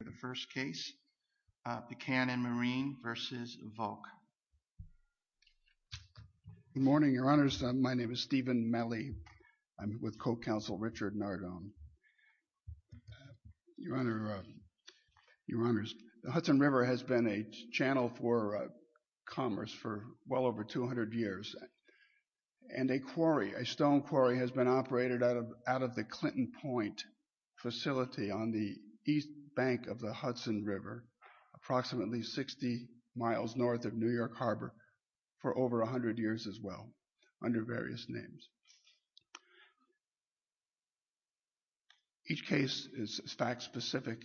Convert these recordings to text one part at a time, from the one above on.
The first case, Buchanan Marine v. Volk. Good morning, Your Honors. My name is Stephen Mellie. I'm with Co-Counsel Richard Nardone. Your Honors, the Hudson River has been a channel for commerce for well over 200 years. And a quarry, a stone quarry, has been operated out of the Clinton Point facility on the east bank of the Hudson River, approximately 60 miles north of New York Harbor, for over 100 years as well, under various names. Each case is fact-specific,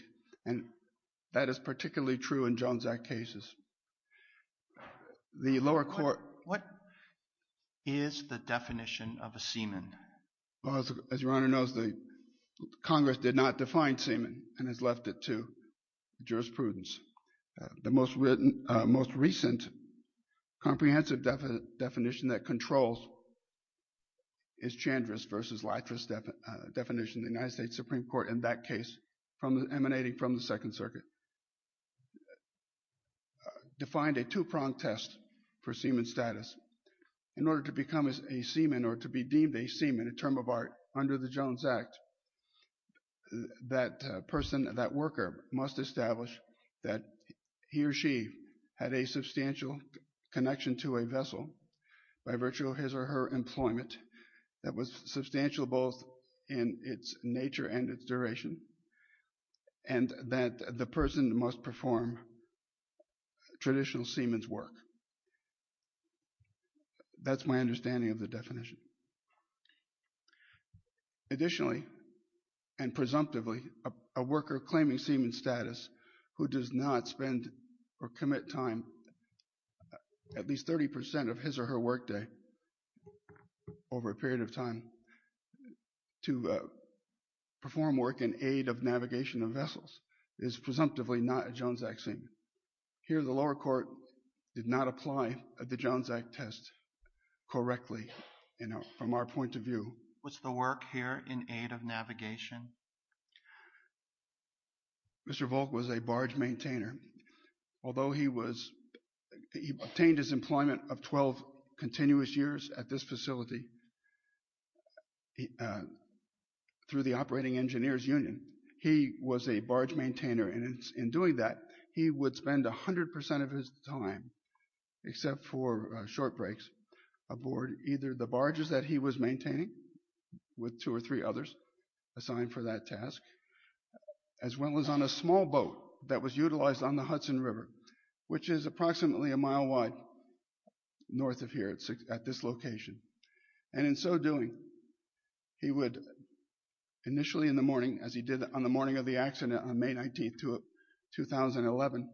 and that is particularly true in Jones Act cases. The lower court— What is the definition of a seaman? Well, as Your Honor knows, the Congress did not define seaman and has left it to jurisprudence. The most recent comprehensive definition that controls is Chandra's v. Leithra's definition of the United States Supreme Court in that case emanating from the Second Circuit, defined a two-pronged test for seaman status. In order to become a seaman or to be deemed a seaman, a term of art under the Jones Act, that person, that worker, must establish that he or she had a substantial connection to a vessel by virtue of his or her employment that was substantial both in its nature and its duration, and that the person must perform traditional seaman's work. That's my understanding of the definition. Additionally, and presumptively, a worker claiming seaman status who does not spend or commit time, at least 30% of his or her work day over a period of time, to perform work in aid of navigation of vessels is presumptively not a Jones Act seaman. Here the lower court did not apply the Jones Act test correctly from our point of view. Was the work here in aid of navigation? Mr. Volk was a barge maintainer. Although he was, he obtained his employment of 12 continuous years at this facility through the Operating Engineers Union, he was a barge maintainer, and in doing that, he would spend 100% of his time, except for short breaks, aboard either the barges that he was maintaining with two or three others assigned for that task, as well as on a small boat that was utilized on the Hudson River, which is approximately a mile wide north of here at this location. And in so doing, he would initially in the morning, as he did on the morning of the accident on May 19th, 2011,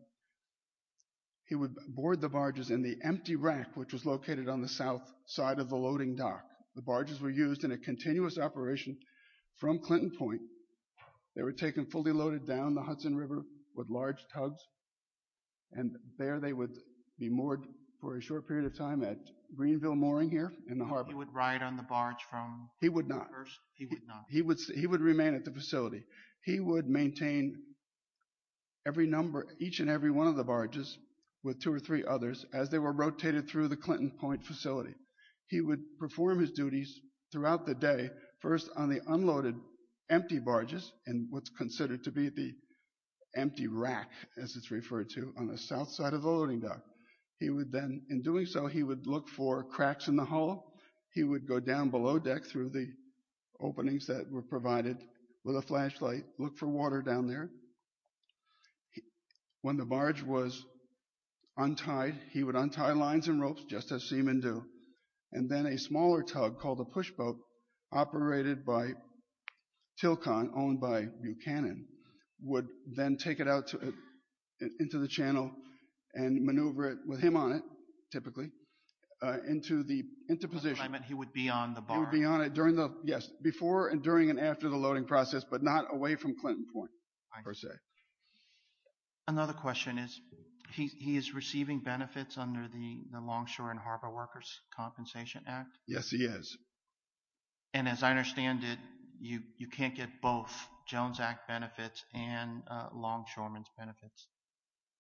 he would board the barges in the empty rack, which was located on the south side of the loading dock. The barges were used in a continuous operation from Clinton Point, they were taken fully loaded down the Hudson River with large tugs, and there they would be moored for a short period of time at Greenville Mooring here in the harbor. He would ride on the barge from... He would not. He would not. He would remain at the facility. He would maintain every number, each and every one of the barges with two or three others as they were rotated through the Clinton Point facility. He would perform his duties throughout the day, first on the unloaded empty barges, and what's considered to be the empty rack, as it's referred to, on the south side of the loading dock. He would then, in doing so, he would look for cracks in the hull. He would go down below deck through the openings that were provided with a flashlight, look for water down there. When the barge was untied, he would untie lines and ropes, just as seamen do, and then a smaller tug called a push boat, operated by Tilcon, owned by Buchanan, would then take it out into the channel and maneuver it, with him on it, typically, into position. He would be on the barge? He would be on it, yes, before and during and after the loading process, but not away from Clinton Point, per se. Another question is, he is receiving benefits under the Longshore and Harbor Workers' Compensation Act? Yes, he is. And, as I understand it, you can't get both Jones Act benefits and Longshoremen's benefits?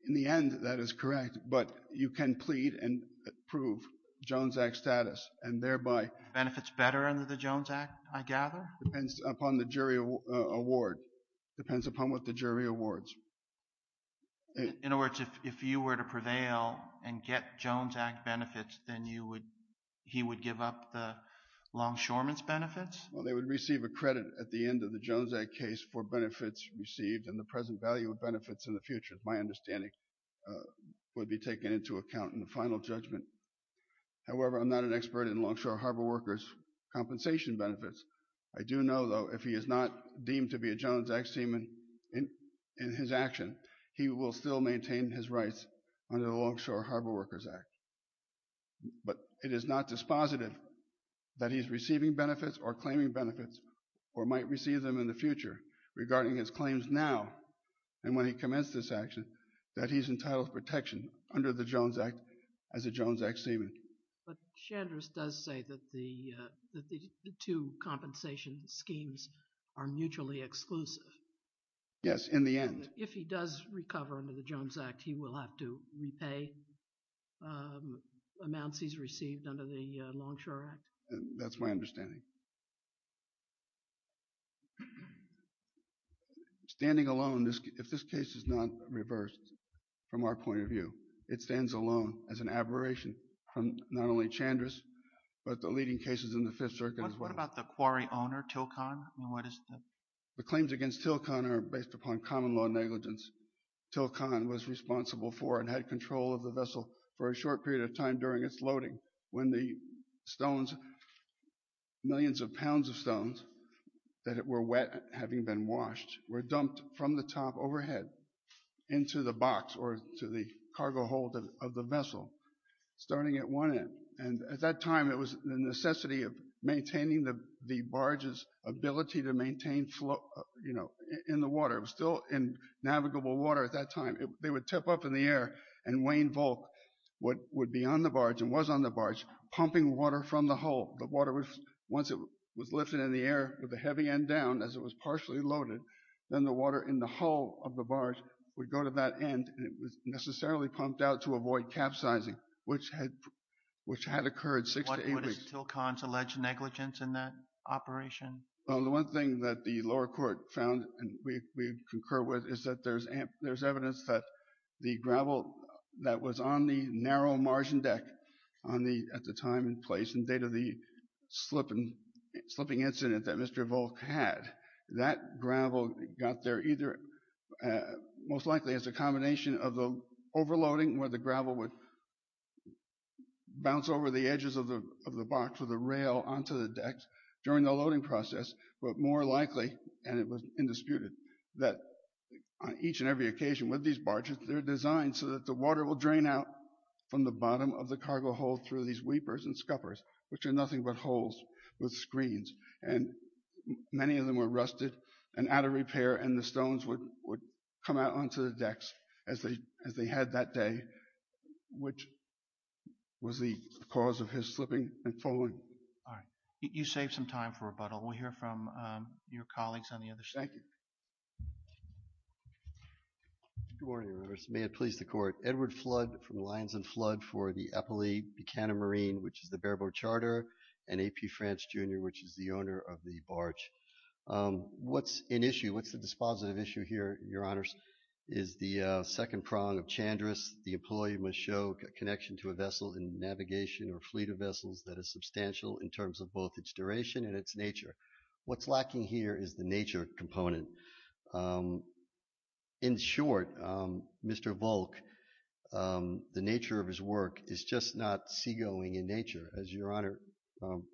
In the end, that is correct, but you can plead and prove Jones Act status, and thereby... Benefits better under the Jones Act, I gather? Depends upon the jury award. Depends upon what the jury awards. In other words, if you were to prevail and get Jones Act benefits, then he would give up the Longshoremen's benefits? Well, they would receive a credit at the end of the Jones Act case for benefits received and the present value of benefits in the future, is my understanding, would be taken into account in the final judgment. However, I'm not an expert in Longshore and Harbor Workers' Compensation benefits. I do know, though, if he is not deemed to be a Jones Act seaman in his action, he will still maintain his rights under the Longshore and Harbor Workers' Act. But it is not dispositive that he is receiving benefits or claiming benefits, or might receive them in the future, regarding his claims now, and when he commits this action, that he's entitled to protection under the Jones Act as a Jones Act seaman. But Shanders does say that the two compensation schemes are mutually exclusive. Yes, in the end. If he does recover under the Jones Act, he will have to repay amounts he's received under the Longshore Act? That's my understanding. Standing alone, if this case is not reversed from our point of view, it stands alone as an aberration from not only Chandris, but the leading cases in the Fifth Circuit as well. What about the quarry owner, Tilcon? The claims against Tilcon are based upon common law negligence. Tilcon was responsible for and had control of the vessel for a short period of time during its loading when the stones, millions of pounds of stones that were wet, having been washed, were dumped from the top overhead into the box or to the cargo hold of the vessel, starting at one end. And at that time, it was the necessity of maintaining the barge's ability to maintain flow, you know, in the water. It was still in navigable water at that time. They would tip up in the air, and Wayne Volk would be on the barge, and was on the barge, pumping water from the hull. The water, once it was lifted in the air with the heavy end down, as it was partially loaded, then the water in the hull of the barge would go to that end, and it was necessarily pumped out to avoid capsizing, which had occurred six to eight weeks. What would Tilcon's alleged negligence in that operation? The one thing that the lower court found, and we concur with, is that there's evidence that the gravel that was on the narrow margin deck at the time and place, and date of the slipping incident that Mr. Volk had, that gravel got there either most likely as a combination of the overloading, where the gravel would bounce over the edges of the box or the rail onto the deck during the loading process, but more likely, and it was indisputed, that on each and every occasion with these barges, they're designed so that the water will drain out from the bottom of the cargo hold through these weepers and scuppers, which are nothing but holes with screens, and many of them were rusted and out of repair, and the stones would come out onto the decks as they had that day, which was the cause of his slipping and falling. All right. You saved some time for rebuttal. We'll hear from your colleagues on the other side. Thank you. Good morning, Your Honor. May it please the court. Edward Flood from the Lions and Flood for the Eppley Buchanan Marine, which is the bare-boat charter, and A.P. France, Jr., which is the owner of the barge. What's in issue, what's the dispositive issue here, Your Honors, is the second prong of Chandris. The employee must show a connection to a vessel in navigation or fleet of vessels that is substantial in terms of both its duration and its nature. What's lacking here is the nature component. In short, Mr. Volk, the nature of his work is just not seagoing in nature. As Your Honor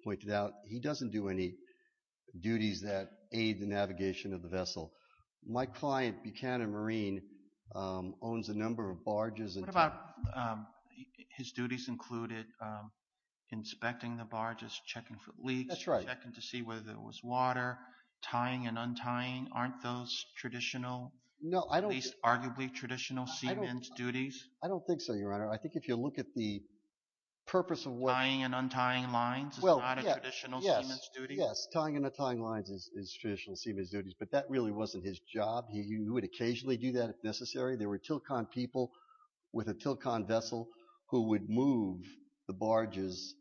pointed out, he doesn't do any duties that aid the navigation of the vessel. My client, Buchanan Marine, owns a number of barges. What about his duties included inspecting the barges, checking for leaks, checking to see whether there was water, tying and untying aren't those traditional, at least arguably traditional, seamen's duties? I don't think so, Your Honor. I think if you look at the purpose of what... Tying and untying lines is not a traditional seamen's duty? Yes, tying and untying lines is traditional seamen's duties, but that really wasn't his job. He would occasionally do that if necessary. There were Tilkan people with a Tilkan vessel who would move the barges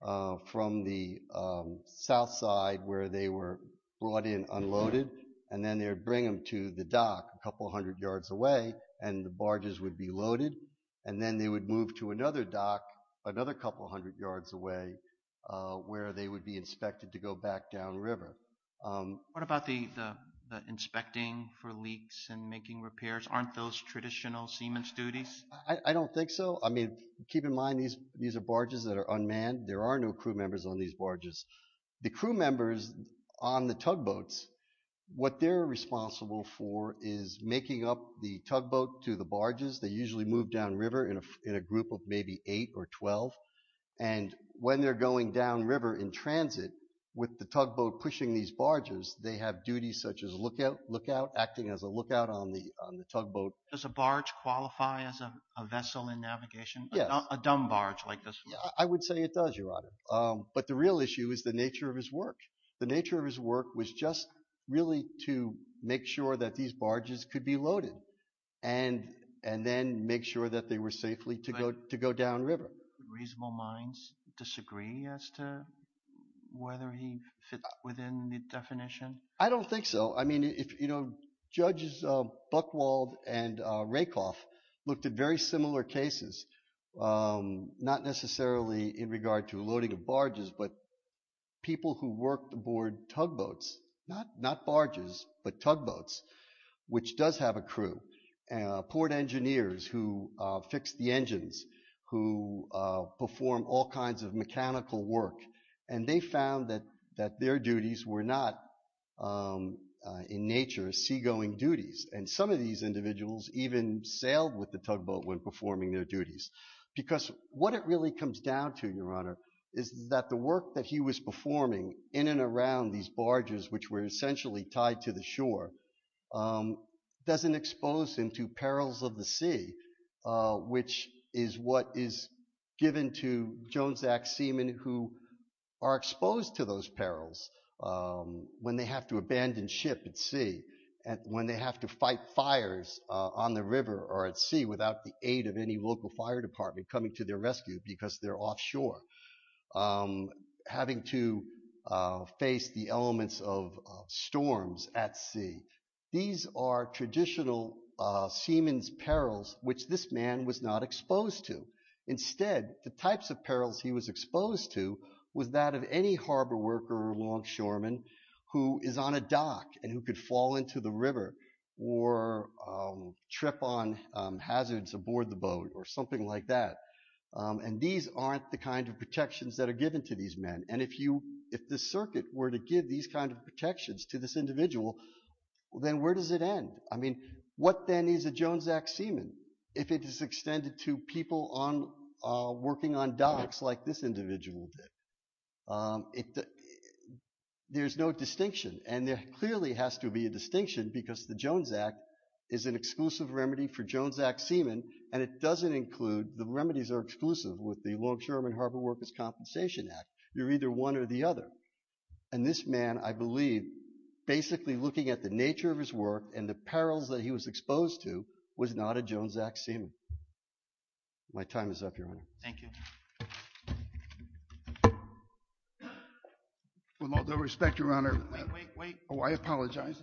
from the south side where they were brought in unloaded and then they would bring them to the dock a couple hundred yards away and the barges would be loaded and then they would move to another dock another couple hundred yards away where they would be inspected to go back downriver. What about the inspecting for leaks and making repairs? Aren't those traditional seamen's duties? I don't think so. I mean, keep in mind these are barges that are unmanned. There are no crew members on these barges. The crew members on the tugboats, what they're responsible for is making up the tugboat to the barges. They usually move downriver in a group of maybe eight or 12. And when they're going downriver in transit with the tugboat pushing these barges, they have duties such as lookout acting as a lookout on the tugboat. Does a barge qualify as a vessel in navigation? Yes. A dumb barge like this? I would say it does, Your Honor. But the real issue is the nature of his work. The nature of his work was just really to make sure that these barges could be loaded and then make sure that they were safely to go downriver. Reasonable minds disagree as to whether he fits within the definition? I don't think so. Judges Buchwald and Rakoff looked at very similar cases, not necessarily in regard to loading of barges, but people who worked aboard tugboats, not barges, but tugboats, which does have a crew. Port engineers who fix the engines, who perform all kinds of mechanical work, and they found that their duties were not, in nature, seagoing duties. And some of these individuals even sailed with the tugboat when performing their duties. Because what it really comes down to, Your Honor, is that the work that he was performing in and around these barges, which were essentially tied to the shore, doesn't expose him to perils of the sea, which is what is given to Jones Act seamen who are exposed to those perils when they have to abandon ship at sea, when they have to fight fires on the river or at sea without the aid of any local fire department coming to their These are traditional seamen's perils, which this man was not exposed to. Instead, the types of perils he was exposed to was that of any harbor worker or longshoreman who is on a dock and who could fall into the river or trip on hazards aboard the boat or something like that. And these aren't the kind of protections that are given to these men. And if the circuit were to give these kinds of protections to this individual, then where does it end? I mean, what then is a Jones Act seamen if it is extended to people working on docks like this individual did? There's no distinction. And there clearly has to be a distinction because the Jones Act is an exclusive remedy for Jones Act seamen. And it doesn't include, the remedies are exclusive with the Longshoreman Harbor Workers' Compensation Act. You're either one or the other. And this man, I believe, basically looking at the nature of his work and the perils that he was exposed to was not a Jones Act seamen. My time is up, Your Honor. Thank you. With all due respect, Your Honor. Wait, wait, wait. Oh, I apologize.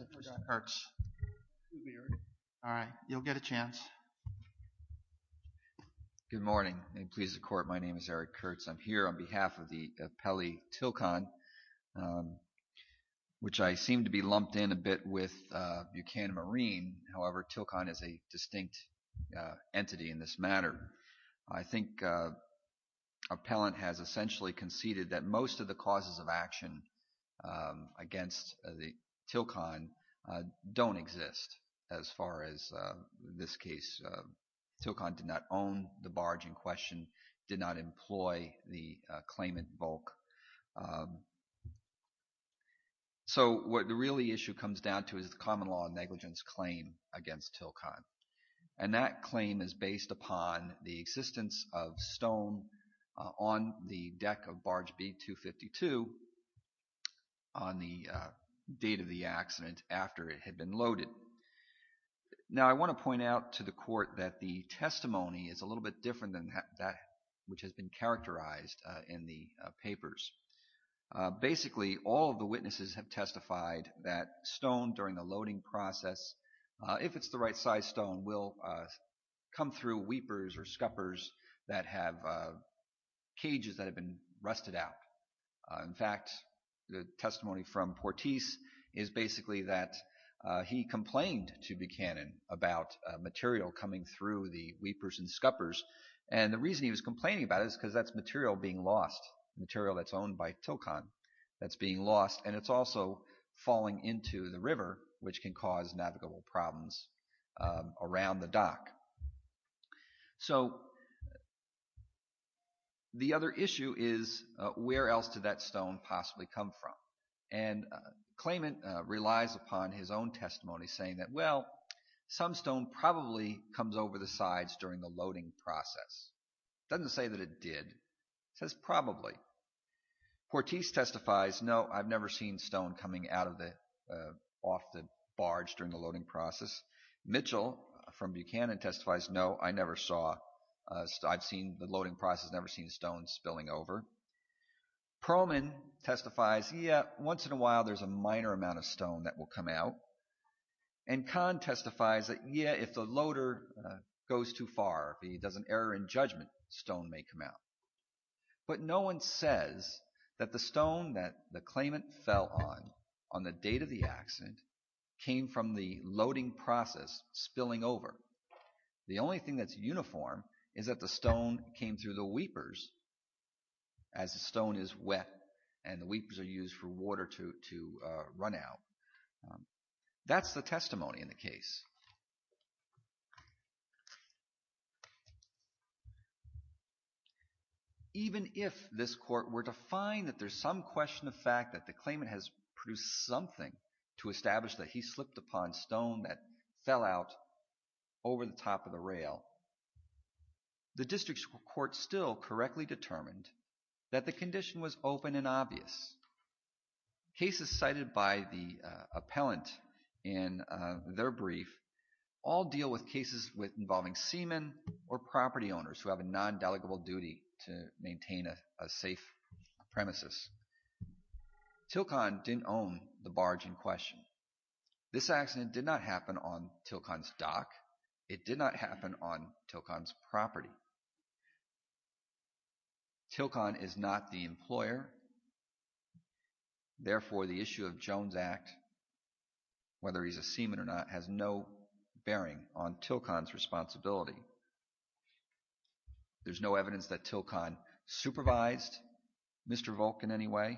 All right. You'll get a chance. Good morning. May it please the Court. My name is Eric Kurtz. I'm here on behalf of the Longshoreman, which I seem to be lumped in a bit with Buchanan Marine. However, TILCON is a distinct entity in this matter. I think appellant has essentially conceded that most of the causes of action against the TILCON don't exist as far as this case. TILCON did not exist. So what the really issue comes down to is the common law negligence claim against TILCON. And that claim is based upon the existence of stone on the deck of barge B-252 on the date of the accident after it had been loaded. Now, I want to point out to the Court that the testimony is a little bit different than that which has been characterized in the papers. Basically, all of the witnesses have testified that stone during the loading process, if it's the right size stone, will come through weepers or scuppers that have cages that have been rusted out. In fact, the testimony from Portis is basically that he complained to Buchanan about material coming through the weepers and scuppers. And the reason he was complaining about it is because that's material being lost, material that's owned by TILCON that's being lost, and it's also falling into the river, which can cause navigable problems around the dock. So the other issue is where else did that stone possibly come from? And Klayman relies upon his own testimony saying that, well, some stone probably comes over the sides during the loading process. It doesn't say that it did. It says probably. Portis testifies, no, I've never seen stone coming out of the, off the barge during the loading process. Mitchell from Buchanan testifies, no, I never saw, I've seen the loading process, never seen stone spilling over. Perlman testifies, yeah, once in a while there's a minor amount of stone that will come out. And Kahn testifies that, yeah, if the loader goes too far, if he does an error in judgment, stone may come out. But no one says that the stone that the Klayman fell on, on the date of the accident, came from the loading process spilling over. The only thing that's uniform is that the stone came through the weepers as the stone is wet and the weepers are used for water to run out. That's the testimony in the case. Even if this court were to find that there's some question of fact that the Klayman has produced something to establish that he slipped upon stone that fell out over the top of the rail, the district court still correctly determined that the condition was open and obvious. Cases cited by the appellant in their brief all deal with cases with involving seamen or property owners who have a non-delegable duty to maintain a safe premises. Tilcon didn't own the barge in question. This accident did not happen on Tilcon's dock. Tilcon is not the employer, therefore the issue of Jones Act, whether he's a seaman or not, has no bearing on Tilcon's responsibility. There's no evidence that Tilcon supervised Mr. Volk in any way.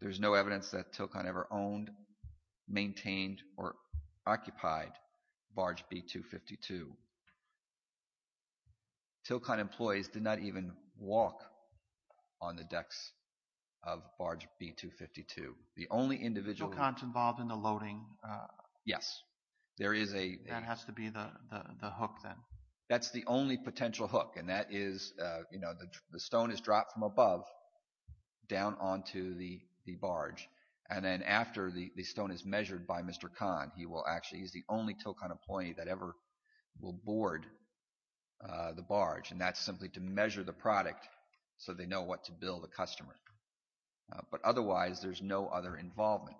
There's no evidence that Tilcon ever owned, maintained, or occupied barge B-252. Tilcon employees did not even walk on the decks of barge B-252. The only individual... Tilcon's involved in the loading. Yes, there is a... That has to be the hook then. That's the only potential hook and that is, you know, the stone is dropped from above down onto the barge and then after the stone is measured by Mr. Kahn, he will actually, he's the only Tilcon employee that ever will board the barge and that's simply to measure the product so they know what to bill the customer. But otherwise, there's no other involvement.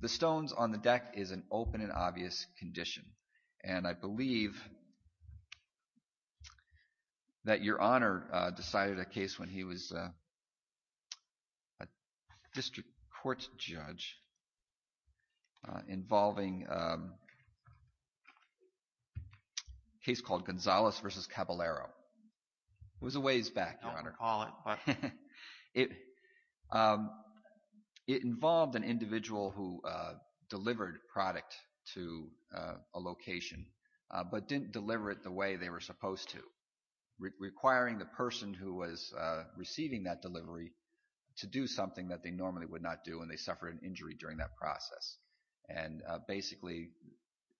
The stones on the deck is an open and obvious condition and I believe that Your Honor decided a case when he was a district court judge involving a case called Gonzales v. Caballero. It was a ways back, Your Honor. I don't recall it, but... It involved an individual who delivered product to a location but didn't deliver it the way they were supposed to, requiring the person who was receiving that delivery to do something that they normally would not do and they suffered an injury during that process. And basically,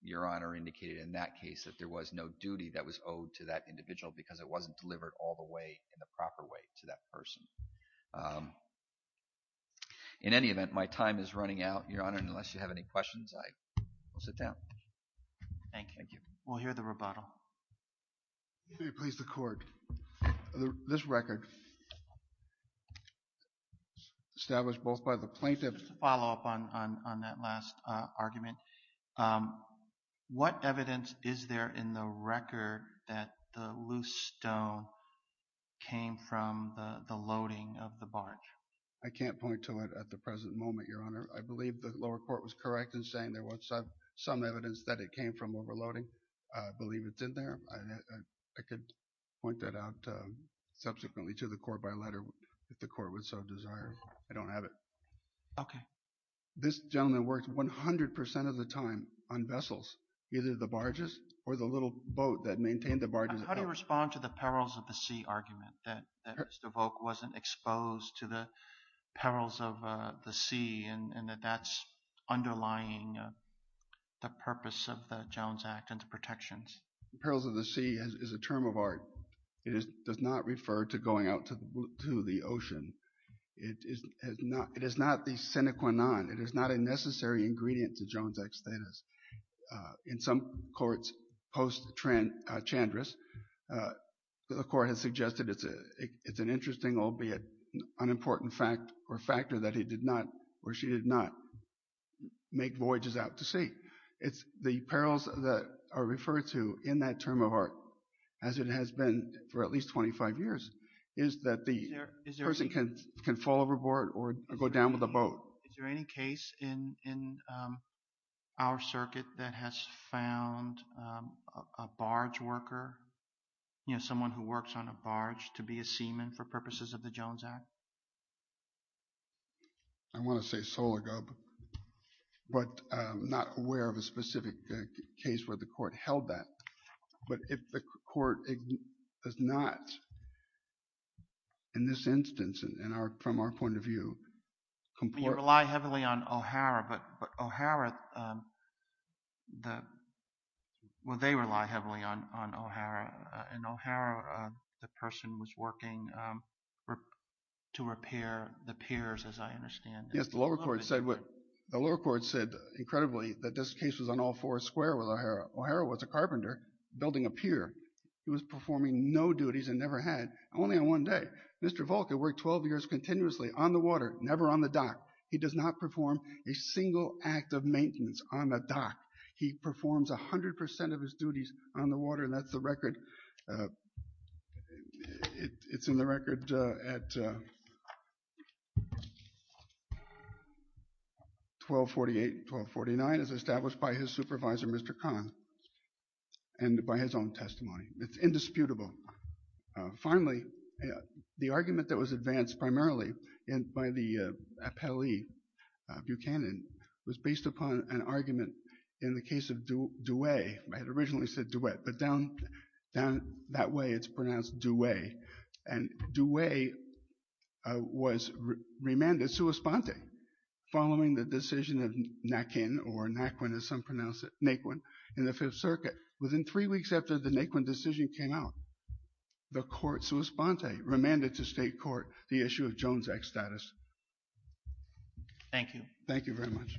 Your Honor indicated in that case that there was no duty that was owed to that individual because it wasn't delivered all the way in the proper way to that person. In any event, my time is running out, Your Honor, and unless you have any questions, I will sit down. Thank you. We'll hear the rebuttal. Let me replace the court. This record, established both by the plaintiff... Just to follow up on that last argument, what evidence is there in the record that the loose stone came from the loading of the barge? I can't point to it at the present moment, Your Honor. I believe the lower court was correct in saying there was some evidence that it came from overloading. I believe it's in there. I could point that out subsequently to the court by letter if the court would so desire. I don't have it. Okay. This gentleman worked 100% of the time on vessels, either the barges or the little boat that maintained the barges. How do you respond to the perils of the sea argument that Mr. Volk wasn't exposed to the underlying purpose of the Jones Act and the protections? Perils of the sea is a term of art. It does not refer to going out to the ocean. It is not the sine qua non. It is not a necessary ingredient to Jones Act status. In some courts post Chandris, the court has suggested it's an interesting, albeit unimportant fact or factor that he did not or she did not make voyages out to sea. The perils that are referred to in that term of art, as it has been for at least 25 years, is that the person can fall overboard or go down with a boat. Is there any case in our circuit that has found a barge worker, someone who works on a barge, to be a seaman for purposes of the Jones Act? I want to say Sologub, but I'm not aware of a specific case where the court held that. But if the court does not, in this instance, and from our point of view... You rely heavily on O'Hara, but O'Hara, well, they rely heavily on O'Hara. And O'Hara, the person was working to repair the piers, as I understand. Yes, the lower court said incredibly that this case was on all four square with O'Hara. O'Hara was a carpenter building a pier. He was performing no duties and never had, only on one day. Mr. Volk had worked 12 years continuously on the water, never on the dock. He does not perform a single act of maintenance on the dock. He performs 100% of his duties on the water. And that's the record. It's in the record at 1248, 1249, as established by his supervisor, Mr. Kahn, and by his own testimony. It's indisputable. Finally, the argument that was advanced primarily by the appellee, Buchanan, was based upon an argument in the case of DeWay. I had originally said DeWay, but down that way, it's pronounced DeWay. And DeWay was remanded sua sponte following the decision of Nakin, or Naquin, as some pronounce it, Naquin, in the Fifth Circuit. Within three weeks after the Naquin decision came out, the court sua sponte remanded to state court the issue of Jones Act status. Thank you. Thank you very much.